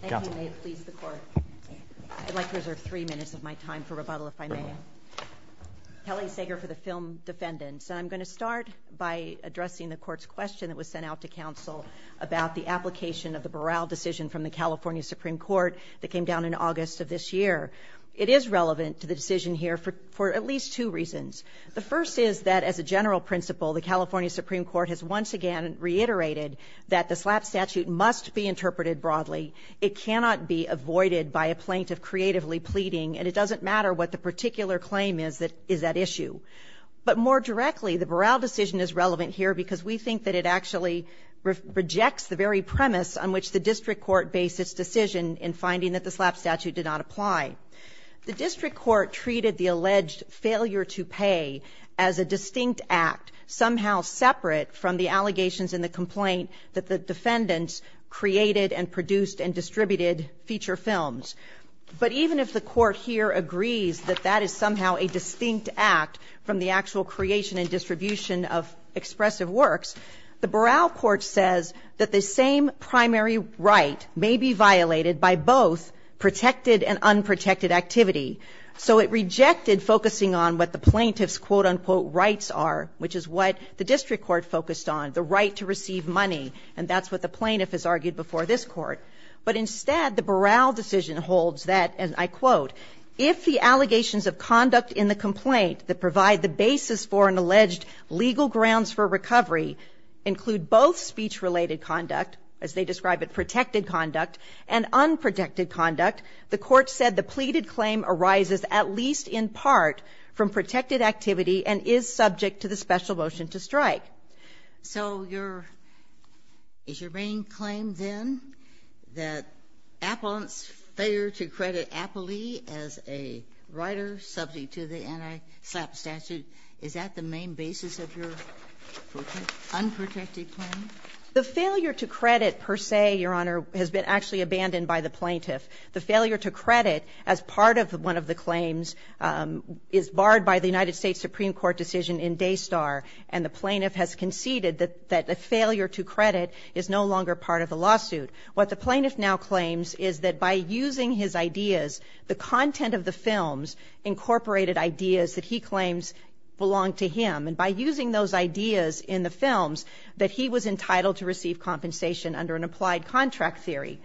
Thank you, and may it please the Court. I'd like to reserve three minutes of my time for rebuttal, if I may. Kelly Sager for the Film Defendants. I'm going to start by addressing the Court's question that was sent out to Council about the application of the Burrell decision from the California Supreme Court that came down in August of this year. It is relevant to the decision here for at least two reasons. The first is that, as a general principle, the California Supreme Court has once again reiterated that the SLAPP statute must be interpreted broadly. It cannot be avoided by a plaintiff creatively pleading, and it doesn't matter what the particular claim is that is at issue. But more directly, the Burrell decision is relevant here because we think that it actually rejects the very premise on which the District Court based its decision in finding that the SLAPP statute did not apply. The District Court treated the alleged failure to pay as a distinct act, somehow separate from the allegations in the complaint that the defendants created and produced and distributed feature films. But even if the Court here agrees that that is somehow a distinct act from the actual creation and distribution of expressive works, the Burrell Court says that the same primary right may be violated by both protected and unprotected activity. So it rejected focusing on what the plaintiff's quote-unquote rights are, which is what the District Court focused on, the right to receive money, and that's what the plaintiff has argued before this Court. But instead, the Burrell decision holds that, and I quote, if the allegations of conduct in the complaint that provide the basis for an alleged legal grounds for recovery include both speech-related conduct, as they describe it, protected conduct, and unprotected conduct, the Court said the pleaded claim arises at least in part from protected activity and is subject to the special motion to strike. So your – is your main claim then that Appellant's failure to credit Appley as a writer subject to the anti-SLAPP statute, is that the main basis of your unprotected claim? The failure to credit, per se, Your Honor, has been actually abandoned by the plaintiff. The failure to credit, as part of one of the claims, is barred by the United States Supreme Court decision in Daystar, and the plaintiff has conceded that the failure to credit is no longer part of the lawsuit. What the plaintiff now claims is that by using his ideas, the content of the films incorporated ideas that he claims belong to him, and by using those ideas in the films, that he was entitled to receive compensation under an applied contract theory.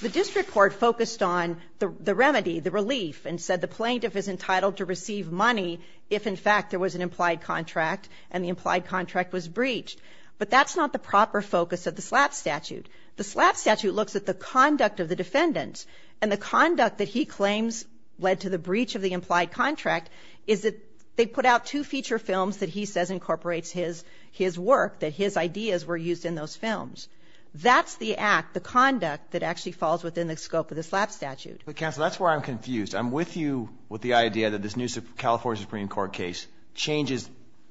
The district court focused on the remedy, the relief, and said the plaintiff is entitled to receive money if, in fact, there was an implied contract and the implied contract was breached. But that's not the proper focus of the SLAPP statute. The SLAPP statute looks at the conduct of the defendants, and the conduct that he claims led to the breach of the implied contract is that they put out two feature films that he says incorporates his work, that his ideas were used in those films. That's the act, the conduct that actually falls within the scope of the SLAPP statute. Counsel, that's where I'm confused. I'm with you with the idea that this new California Supreme Court case changes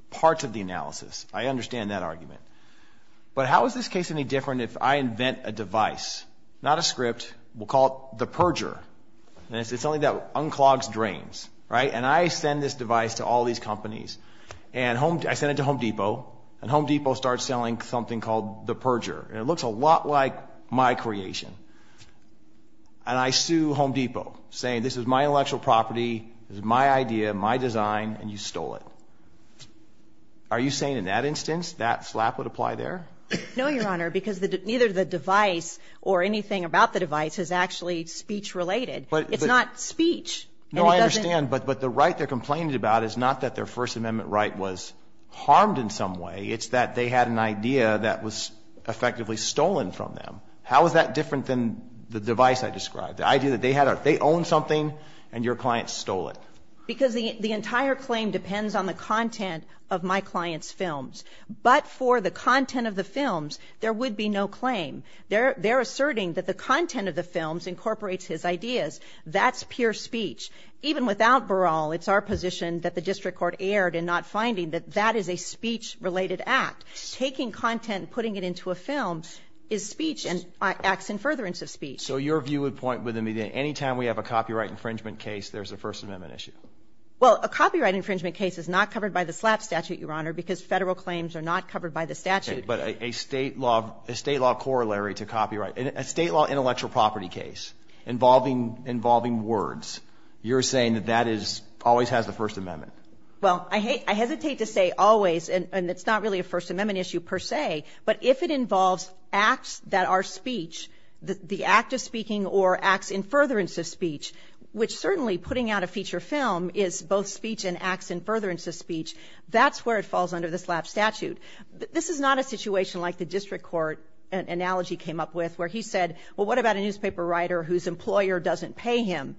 parts of the analysis. I understand that argument. But how is this case any different if I invent a device, not a script, we'll call it the perjurer, and it's something that unclogs drains, right? And I send this device to all these companies, and I send it to Home Depot, and Home Depot starts selling something called the perjurer. And it looks a lot like my creation. And I sue Home Depot, saying this is my intellectual property, this is my idea, my design, and you stole it. Are you saying in that instance that SLAPP would apply there? No, Your Honor, because neither the device or anything about the device is actually speech-related. It's not speech. No, I understand. But the right they're complaining about is not that their First Amendment right was harmed in some way. It's that they had an idea that was effectively stolen from them. How is that different than the device I described? The idea that they own something and your client stole it. Because the entire claim depends on the content of my client's films. But for the content of the films, there would be no claim. They're asserting that the content of the films incorporates his ideas. That's pure speech. Even without Baral, it's our position that the district court erred in not finding that that is a speech-related act. Taking content and putting it into a film is speech and acts in furtherance of speech. So your view would point with me that anytime we have a copyright infringement case, there's a First Amendment issue? Well, a copyright infringement case is not covered by the SLAPP statute, Your Honor, because federal claims are not covered by the statute. Okay, but a state law corollary to copyright, a state law intellectual property case involving words, you're saying that that always has the First Amendment? Well, I hesitate to say always, and it's not really a First Amendment issue per se, but if it involves acts that are speech, the act of speaking or acts in furtherance of speech, which certainly putting out a feature film is both speech and acts in furtherance of speech, that's where it falls under the SLAPP statute. This is not a situation like the district court analogy came up with where he said, well, what about a newspaper writer whose employer doesn't pay him?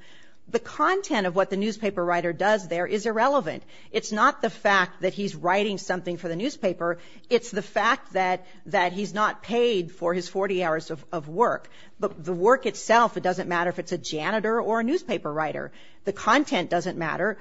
The content of what the newspaper writer does there is irrelevant. It's not the fact that he's writing something for the newspaper. It's the fact that he's not paid for his 40 hours of work. The work itself, it doesn't matter if it's a janitor or a newspaper writer. The content doesn't matter.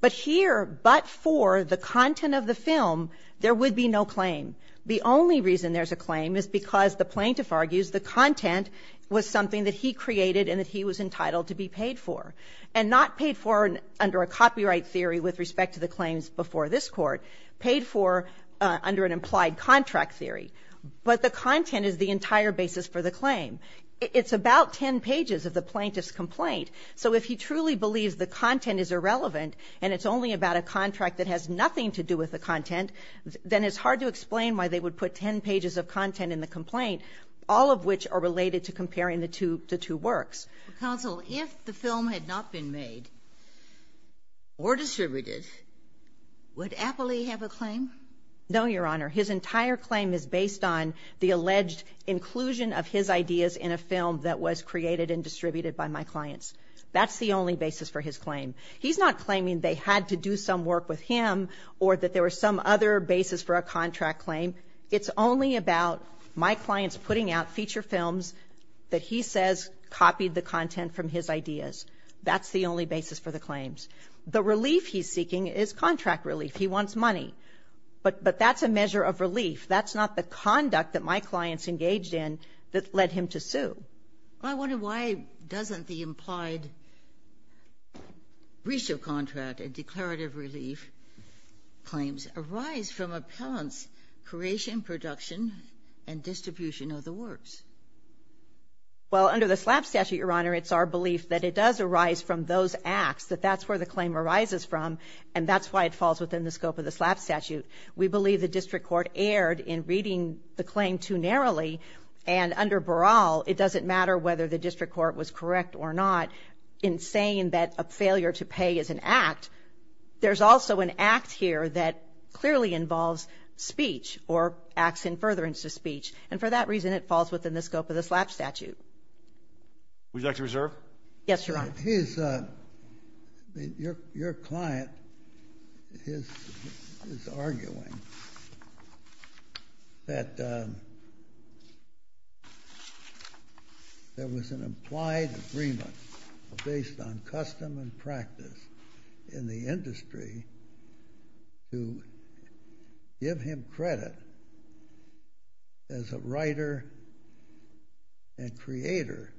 But here, but for the content of the film, there would be no claim. The only reason there's a claim is because the plaintiff argues the content was something that he created and that he was entitled to be paid for, and not paid for under a copyright theory with respect to the claims before this court, paid for under an implied contract theory. But the content is the entire basis for the claim. It's about 10 pages of the plaintiff's complaint. So if he truly believes the content is irrelevant and it's only about a contract that has nothing to do with the content, then it's hard to explain why they would put 10 pages of content in the complaint, all of which are related to comparing the two works. Counsel, if the film had not been made or distributed, would Apley have a claim? No, Your Honor. His entire claim is based on the alleged inclusion of his ideas in a film that was created and distributed by my clients. That's the only basis for his claim. He's not claiming they had to do some work with him or that there was some other basis for a contract claim. It's only about my clients putting out feature films that he says copied the content from his ideas. That's the only basis for the claims. The relief he's seeking is contract relief. He wants money. But that's a measure of relief. That's not the conduct that my clients engaged in that led him to sue. I wonder why doesn't the implied ratio contract and declarative relief claims arise from appellants' creation, production, and distribution of the works. Well, under the SLAP statute, Your Honor, it's our belief that it does arise from those acts, that that's where the claim arises from, and that's why it falls within the scope of the SLAP statute. We believe the district court erred in reading the claim too narrowly, and under Baral it doesn't matter whether the district court was correct or not in saying that a failure to pay is an act. There's also an act here that clearly involves speech or acts in furtherance to speech, and for that reason it falls within the scope of the SLAP statute. Would you like to reserve? Yes, Your Honor. Your client is arguing that there was an implied agreement based on custom and practice in the industry to give him credit as a writer and creator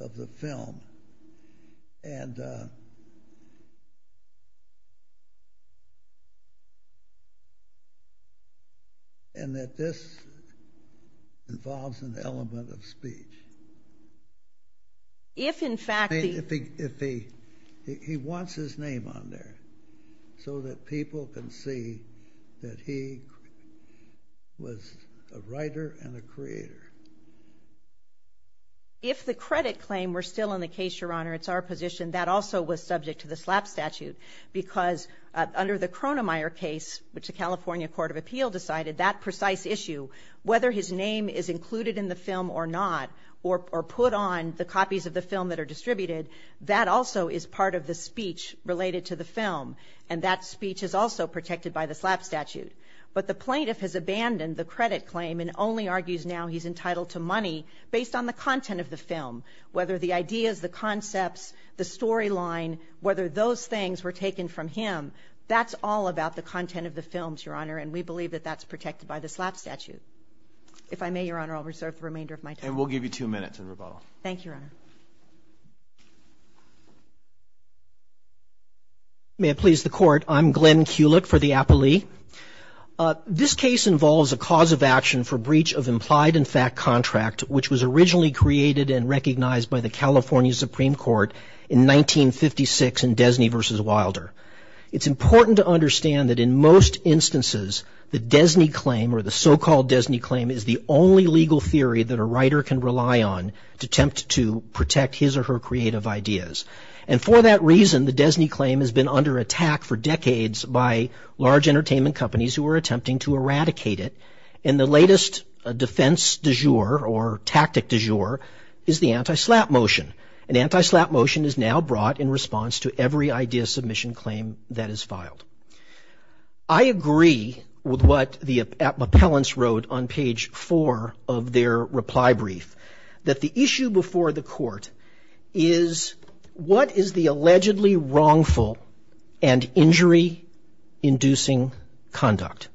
of the film, and that this involves an element of speech. He wants his name on there so that people can see that he was a writer and a creator. If the credit claim were still in the case, Your Honor, it's our position that also was subject to the SLAP statute because under the Cronemeyer case, which the California Court of Appeal decided, that precise issue, whether his name is included in the film or not or put on the copies of the film that are distributed, that also is part of the speech related to the film, and that speech is also protected by the SLAP statute. But the plaintiff has abandoned the credit claim and only argues now he's entitled to money based on the content of the film, whether the ideas, the concepts, the storyline, whether those things were taken from him. That's all about the content of the films, Your Honor, and we believe that that's protected by the SLAP statute. If I may, Your Honor, I'll reserve the remainder of my time. And we'll give you two minutes in rebuttal. Thank you, Your Honor. May it please the Court. I'm Glenn Kulick for the Appalee. This case involves a cause of action for breach of implied and fact contract, which was originally created and recognized by the California Supreme Court in 1956 in Desney v. Wilder. It's important to understand that in most instances the Desney claim or the so-called Desney claim is the only legal theory that a writer can rely on to attempt to protect his or her creative ideas. And for that reason, the Desney claim has been under attack for decades by large entertainment companies who are attempting to eradicate it. And the latest defense du jour or tactic du jour is the anti-SLAP motion. An anti-SLAP motion is now brought in response to every idea submission claim that is filed. I agree with what the appellants wrote on page four of their reply brief, that the issue before the court is what is the allegedly wrongful and injury-inducing conduct.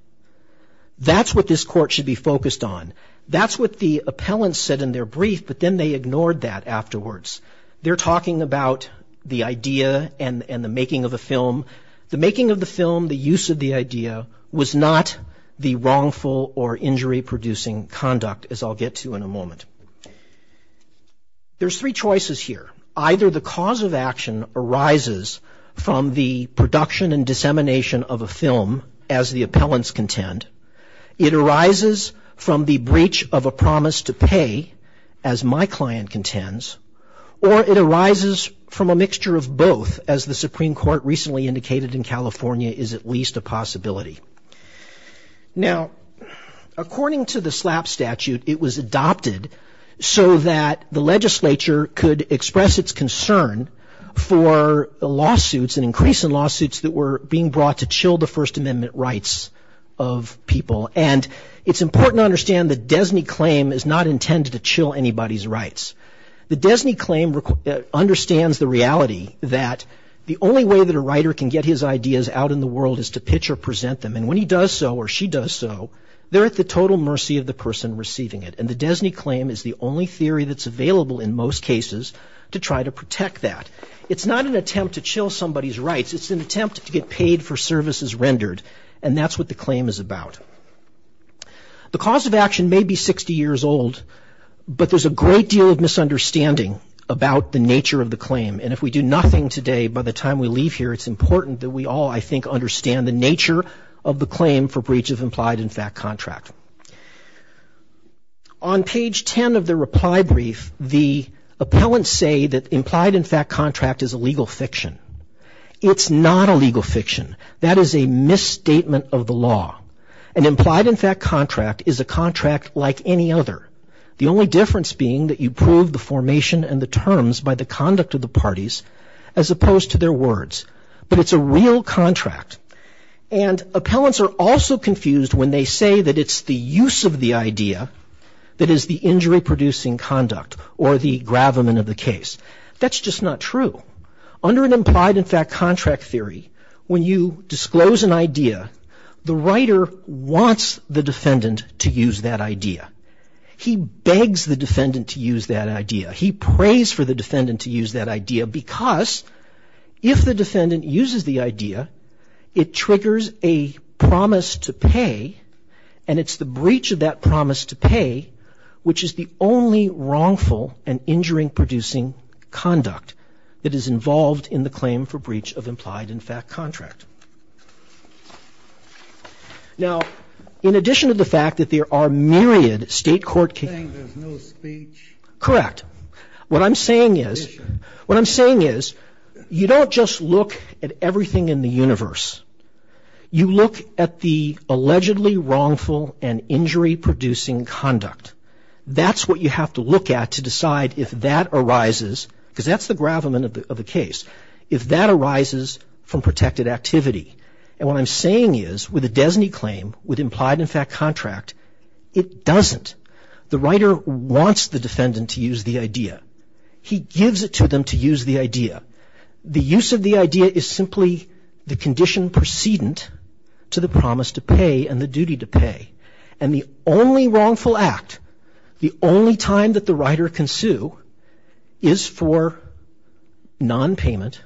That's what this court should be focused on. That's what the appellants said in their brief, but then they ignored that afterwards. They're talking about the idea and the making of a film. The making of the film, the use of the idea, was not the wrongful or injury-producing conduct, as I'll get to in a moment. There's three choices here. Either the cause of action arises from the production and dissemination of a film, as the appellants contend. It arises from the breach of a promise to pay, as my client contends. Or it arises from a mixture of both, as the Supreme Court recently indicated in California is at least a possibility. Now, according to the SLAP statute, it was adopted so that the legislature could express its concern for the lawsuits, an increase in lawsuits that were being brought to chill the First Amendment rights of people. And it's important to understand the DESNY claim is not intended to chill anybody's rights. The DESNY claim understands the reality that the only way that a writer can get his ideas out in the world is to pitch or present them, and when he does so or she does so, they're at the total mercy of the person receiving it. And the DESNY claim is the only theory that's available in most cases to try to protect that. It's not an attempt to chill somebody's rights. It's an attempt to get paid for services rendered, and that's what the claim is about. The cause of action may be 60 years old, but there's a great deal of misunderstanding about the nature of the claim. And if we do nothing today, by the time we leave here, it's important that we all, I think, understand the nature of the claim for breach of implied in fact contract. On page 10 of the reply brief, the appellants say that implied in fact contract is a legal fiction. It's not a legal fiction. That is a misstatement of the law. An implied in fact contract is a contract like any other, the only difference being that you prove the formation and the terms by the conduct of the parties as opposed to their words, but it's a real contract. And appellants are also confused when they say that it's the use of the idea that is the injury-producing conduct or the gravamen of the case. That's just not true. Under an implied in fact contract theory, when you disclose an idea, the writer wants the defendant to use that idea. He begs the defendant to use that idea. He prays for the defendant to use that idea because if the defendant uses the idea, it triggers a promise to pay, and it's the breach of that promise to pay which is the only wrongful and injury-producing conduct that is involved in the claim for breach of implied in fact contract. Now, in addition to the fact that there are myriad state court cases. You're saying there's no speech? Correct. What I'm saying is you don't just look at everything in the universe. You look at the allegedly wrongful and injury-producing conduct. That's what you have to look at to decide if that arises, because that's the gravamen of the case, if that arises from protected activity. And what I'm saying is with a DESNY claim with implied in fact contract, it doesn't. The writer wants the defendant to use the idea. He gives it to them to use the idea. The use of the idea is simply the condition precedent to the promise to pay and the duty to pay, and the only wrongful act, the only time that the writer can sue is for nonpayment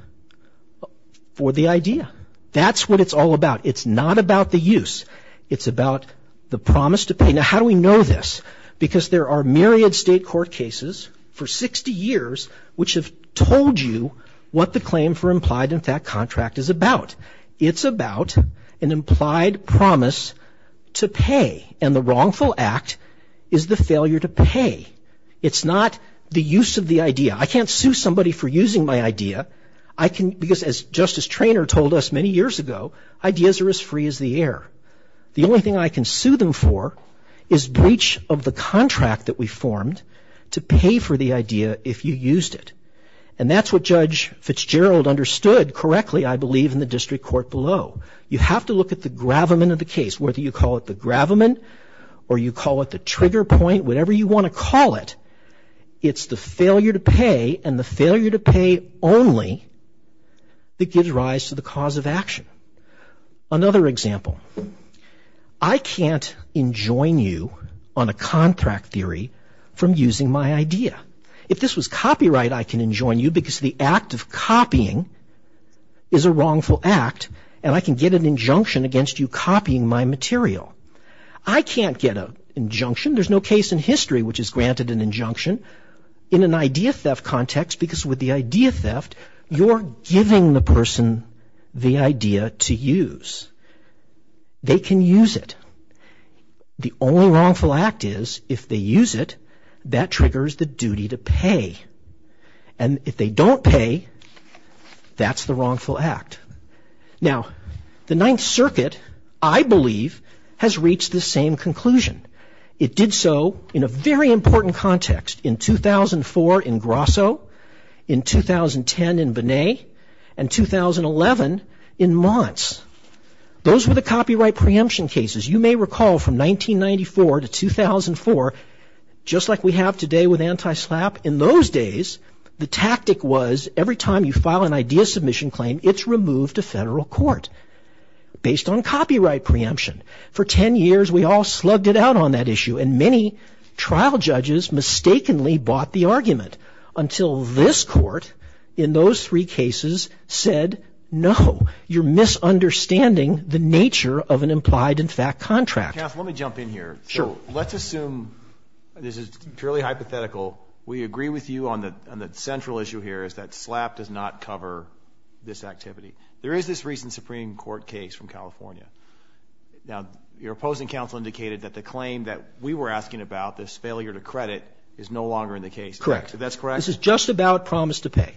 for the idea. That's what it's all about. It's not about the use. It's about the promise to pay. Now, how do we know this? Because there are myriad state court cases for 60 years which have told you what the claim for implied in fact contract is about. It's about an implied promise to pay, and the wrongful act is the failure to pay. It's not the use of the idea. I can't sue somebody for using my idea, because as Justice Treanor told us many years ago, ideas are as free as the air. The only thing I can sue them for is breach of the contract that we formed to pay for the idea if you used it, and that's what Judge Fitzgerald understood correctly, I believe, in the district court below. You have to look at the gravamen of the case, whether you call it the gravamen or you call it the trigger point, whatever you want to call it, it's the failure to pay and the failure to pay only that gives rise to the cause of action. Another example. I can't enjoin you on a contract theory from using my idea. If this was copyright, I can enjoin you, because the act of copying is a wrongful act, and I can get an injunction against you copying my material. I can't get an injunction. There's no case in history which is granted an injunction in an idea theft context, because with the idea theft, you're giving the person the idea to use. They can use it. The only wrongful act is if they use it, that triggers the duty to pay, and if they don't pay, that's the wrongful act. Now, the Ninth Circuit, I believe, has reached the same conclusion. It did so in a very important context. In 2004 in Grosso, in 2010 in Binet, and 2011 in Monts. Those were the copyright preemption cases. You may recall from 1994 to 2004, just like we have today with anti-SLAPP. In those days, the tactic was every time you file an idea submission claim, it's removed to federal court based on copyright preemption. For 10 years, we all slugged it out on that issue, and many trial judges mistakenly bought the argument, until this court in those three cases said, no, you're misunderstanding the nature of an implied and fact contract. Kath, let me jump in here. Sure. Let's assume this is purely hypothetical. We agree with you on the central issue here is that SLAPP does not cover this activity. There is this recent Supreme Court case from California. Now, your opposing counsel indicated that the claim that we were asking about, this failure to credit, is no longer in the case. Correct. That's correct? This is just about promise to pay.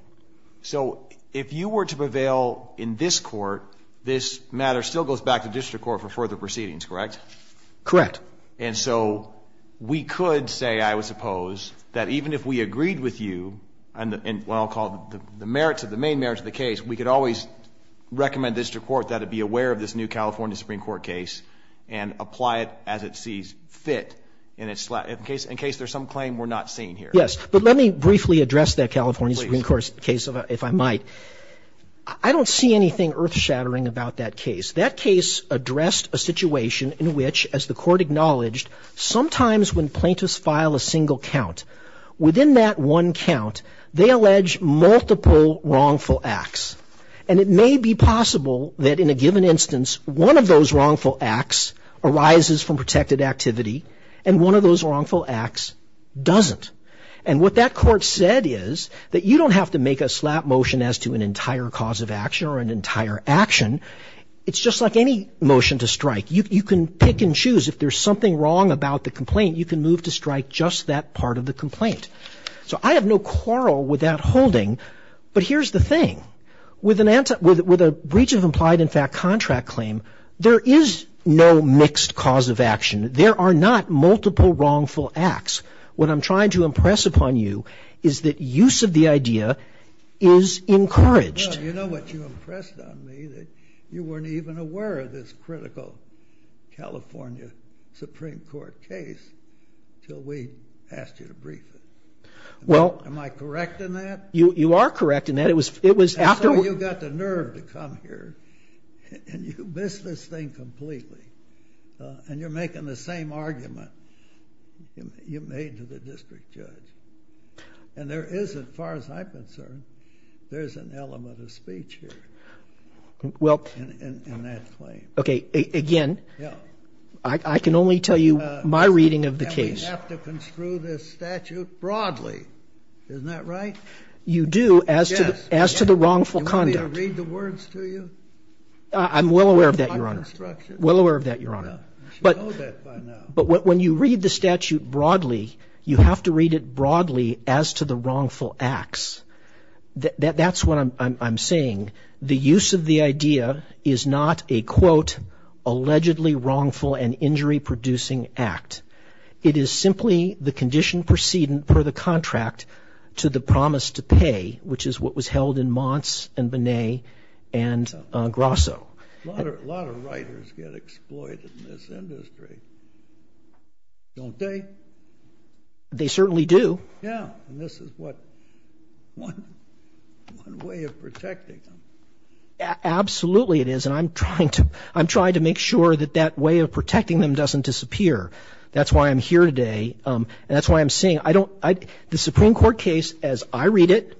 So if you were to prevail in this court, this matter still goes back to district court for further proceedings, correct? Correct. And so we could say, I would suppose, that even if we agreed with you, and what I'll call the merits of the main merits of the case, we could always recommend district court that it be aware of this new California Supreme Court case and apply it as it sees fit in case there's some claim we're not seeing here. Yes. But let me briefly address that California Supreme Court case, if I might. I don't see anything earth shattering about that case. That case addressed a situation in which, as the court acknowledged, sometimes when plaintiffs file a single count, within that one count, they allege multiple wrongful acts. And it may be possible that in a given instance, one of those wrongful acts arises from protected activity, and one of those wrongful acts doesn't. And what that court said is that you don't have to make a slap motion as to an entire cause of action or an entire action. It's just like any motion to strike. You can pick and choose. If there's something wrong about the complaint, you can move to strike just that part of the complaint. So I have no quarrel with that holding. But here's the thing. With a breach of implied, in fact, contract claim, there is no mixed cause of action. There are not multiple wrongful acts. What I'm trying to impress upon you is that use of the idea is encouraged. Well, you know what you impressed on me, that you weren't even aware of this critical California Supreme Court case until we asked you to brief it. Am I correct in that? You are correct in that. That's why you got the nerve to come here, and you missed this thing completely. And you're making the same argument you made to the district judge. And there is, as far as I'm concerned, there's an element of speech here in that claim. Okay. Again, I can only tell you my reading of the case. And we have to construe this statute broadly. Isn't that right? You do, as to the wrongful conduct. Do you want me to read the words to you? I'm well aware of that, Your Honor. Well aware of that, Your Honor. But when you read the statute broadly, you have to read it broadly as to the wrongful acts. That's what I'm saying. The use of the idea is not a, quote, allegedly wrongful and injury-producing act. It is simply the condition precedent per the contract to the promise to pay, which is what was held in Monts and Bonnet and Grosso. A lot of writers get exploited in this industry, don't they? They certainly do. Yeah. And this is what, one way of protecting them. Absolutely it is. And I'm trying to make sure that that way of protecting them doesn't disappear. That's why I'm here today. And that's why I'm saying, I don't, the Supreme Court case, as I read it,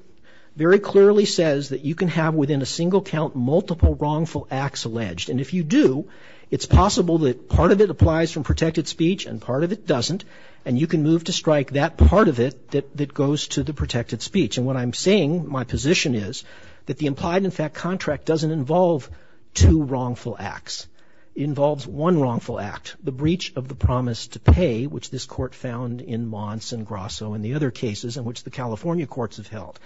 very clearly says that you can have within a single count multiple wrongful acts alleged. And if you do, it's possible that part of it applies from protected speech and part of it doesn't. And you can move to strike that part of it that goes to the protected speech. And what I'm saying, my position is, that the implied, in fact, contract doesn't involve two wrongful acts. It involves one wrongful act, the breach of the promise to pay, which this court found in Monts and Grosso and the other cases in which the California courts have held.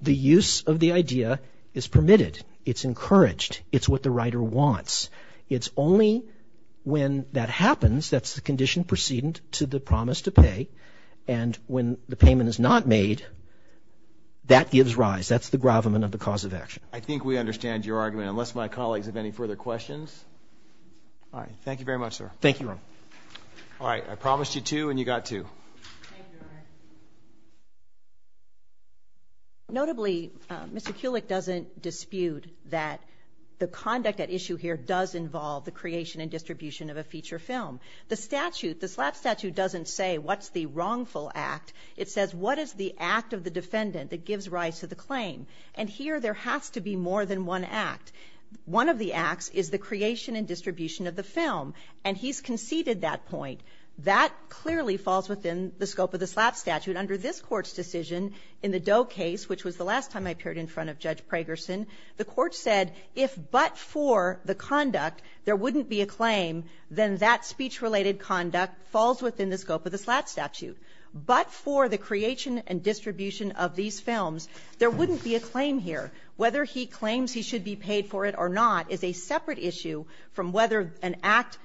The use of the idea is permitted. It's encouraged. It's what the writer wants. It's only when that happens, that's the condition precedent to the promise to pay. And when the payment is not made, that gives rise. That's the gravamen of the cause of action. I think we understand your argument, unless my colleagues have any further questions. All right. Thank you very much, sir. Thank you, Ron. All right. I promised you two and you got two. Thank you, Ron. Notably, Mr. Kulik doesn't dispute that the conduct at issue here does involve the creation and distribution of a feature film. The statute, the SLAP statute doesn't say what's the wrongful act. It says what is the act of the defendant that gives rise to the claim. And here there has to be more than one act. One of the acts is the creation and distribution of the film. And he's conceded that point. That clearly falls within the scope of the SLAP statute. Under this Court's decision, in the Doe case, which was the last time I appeared in front of Judge Pragerson, the Court said if but for the conduct, there wouldn't be a claim, then that speech-related conduct falls within the scope of the SLAP statute. But for the creation and distribution of these films, there wouldn't be a claim here. Whether he claims he should be paid for it or not is a separate issue from whether an act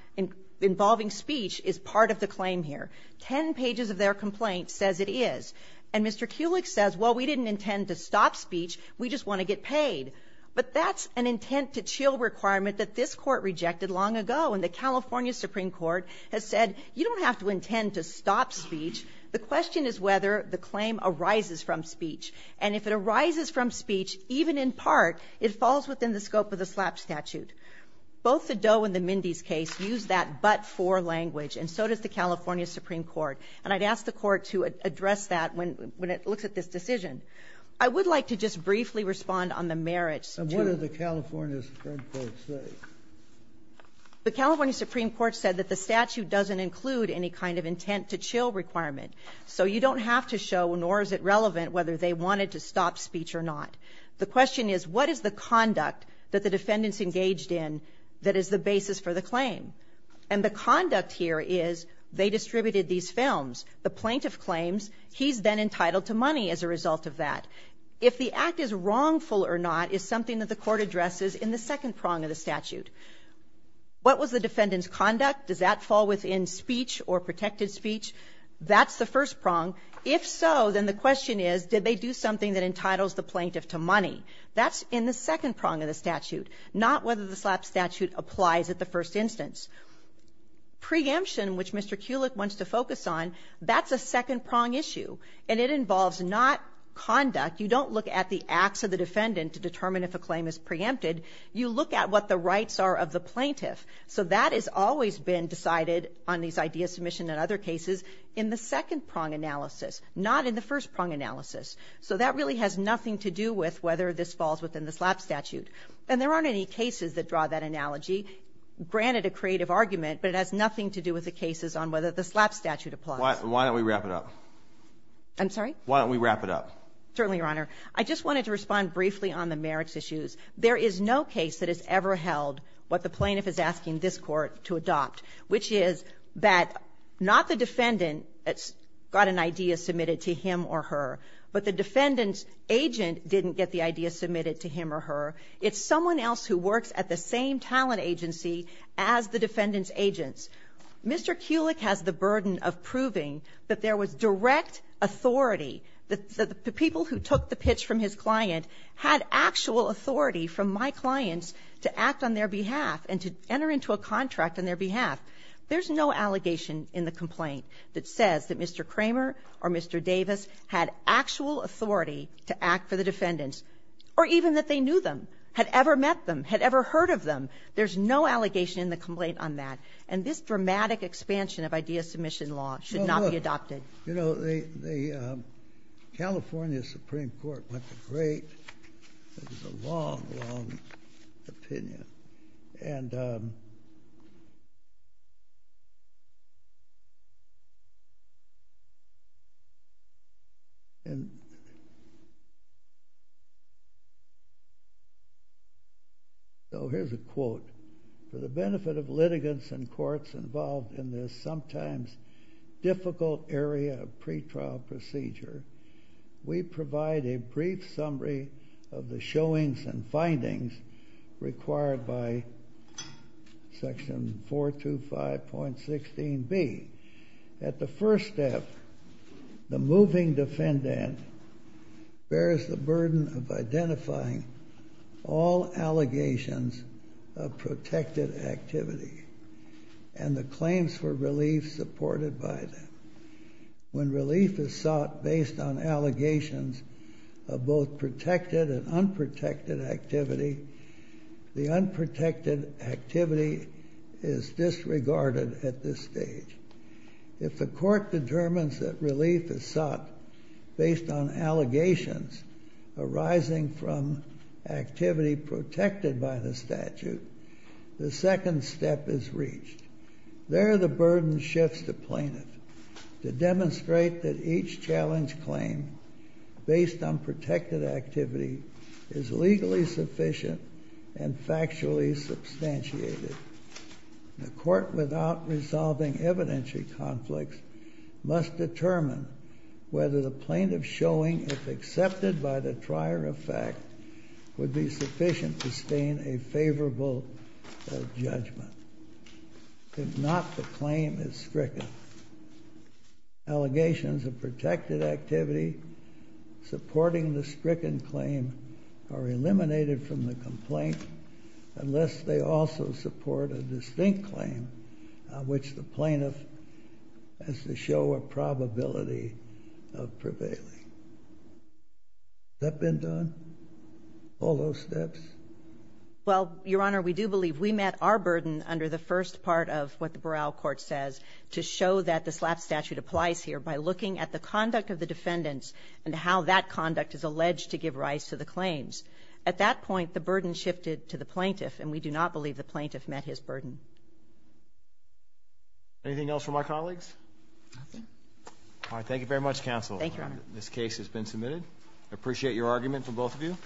involving speech is part of the claim here. Ten pages of their complaint says it is. And Mr. Kulik says, well, we didn't intend to stop speech. We just want to get paid. But that's an intent-to-chill requirement that this Court rejected long ago. And the California Supreme Court has said you don't have to intend to stop speech. The question is whether the claim arises from speech. And if it arises from speech, even in part, it falls within the scope of the SLAP statute. Both the Doe and the Mindy's case use that but-for language, and so does the California Supreme Court. And I'd ask the Court to address that when it looks at this decision. I would like to just briefly respond on the merits. And what did the California Supreme Court say? The California Supreme Court said that the statute doesn't include any kind of intent-to-chill requirement. So you don't have to show, nor is it relevant, whether they wanted to stop speech or not. The question is, what is the conduct that the defendants engaged in that is the basis for the claim? And the conduct here is they distributed these films. The plaintiff claims he's then entitled to money as a result of that. If the act is wrongful or not is something that the Court addresses in the second prong of the statute. What was the defendant's conduct? Does that fall within speech or protected speech? That's the first prong. If so, then the question is, did they do something that entitles the plaintiff to money? That's in the second prong of the statute, not whether the SLAPP statute applies at the first instance. Preemption, which Mr. Kulik wants to focus on, that's a second prong issue. And it involves not conduct. You don't look at the acts of the defendant to determine if a claim is preempted. You look at what the rights are of the plaintiff. So that has always been decided on these idea submissions and other cases in the second prong analysis, not in the first prong analysis. So that really has nothing to do with whether this falls within the SLAPP statute. And there aren't any cases that draw that analogy. Granted, a creative argument, but it has nothing to do with the cases on whether the SLAPP statute applies. Why don't we wrap it up? I'm sorry? Why don't we wrap it up? Certainly, Your Honor. I just wanted to respond briefly on the merits issues. There is no case that has ever held what the plaintiff is asking this Court to adopt, which is that not the defendant got an idea submitted to him or her, but the defendant's agent didn't get the idea submitted to him or her. It's someone else who works at the same talent agency as the defendant's agents. Mr. Kulik has the burden of proving that there was direct authority, that the people who took the pitch from his client had actual authority from my clients to act on their behalf. There's no allegation in the complaint that says that Mr. Kramer or Mr. Davis had actual authority to act for the defendants, or even that they knew them, had ever met them, had ever heard of them. There's no allegation in the complaint on that. And this dramatic expansion of idea submission law should not be adopted. You know, the California Supreme Court went to great, it was a long, long opinion. And so here's a quote. For the benefit of litigants and courts involved in this sometimes difficult area of pretrial procedure, we provide a brief summary of the showings and findings required by section 425.16b. At the first step, the moving defendant bears the burden of identifying all allegations of protected activity and the claims for relief supported by them. When relief is sought based on allegations of both protected and unprotected activity, the unprotected activity is disregarded at this stage. If the court determines that relief is sought based on allegations arising from activity protected by the statute, the second step is reached. There, the burden shifts to plaintiff to demonstrate that each challenge claim based on protected activity is legally sufficient and factually substantiated. The court, without resolving evidentiary conflicts, must determine whether the plaintiff's showing, if accepted by the trier of fact, would be sufficient to stain a favorable judgment. If not, the claim is stricken. Allegations of protected activity supporting the stricken claim are eliminated from the complaint unless they also support a distinct claim on which the plaintiff has to show a Is that been done? All those steps? Well, Your Honor, we do believe we met our burden under the first part of what the Boral Court says to show that the SLAP statute applies here by looking at the conduct of the defendants and how that conduct is alleged to give rise to the claims. At that point, the burden shifted to the plaintiff, and we do not believe the plaintiff met his burden. Anything else from our colleagues? Nothing. All right. Thank you very much, Counsel. Thank you, Your Honor. This case has been submitted. I appreciate your argument from both of you.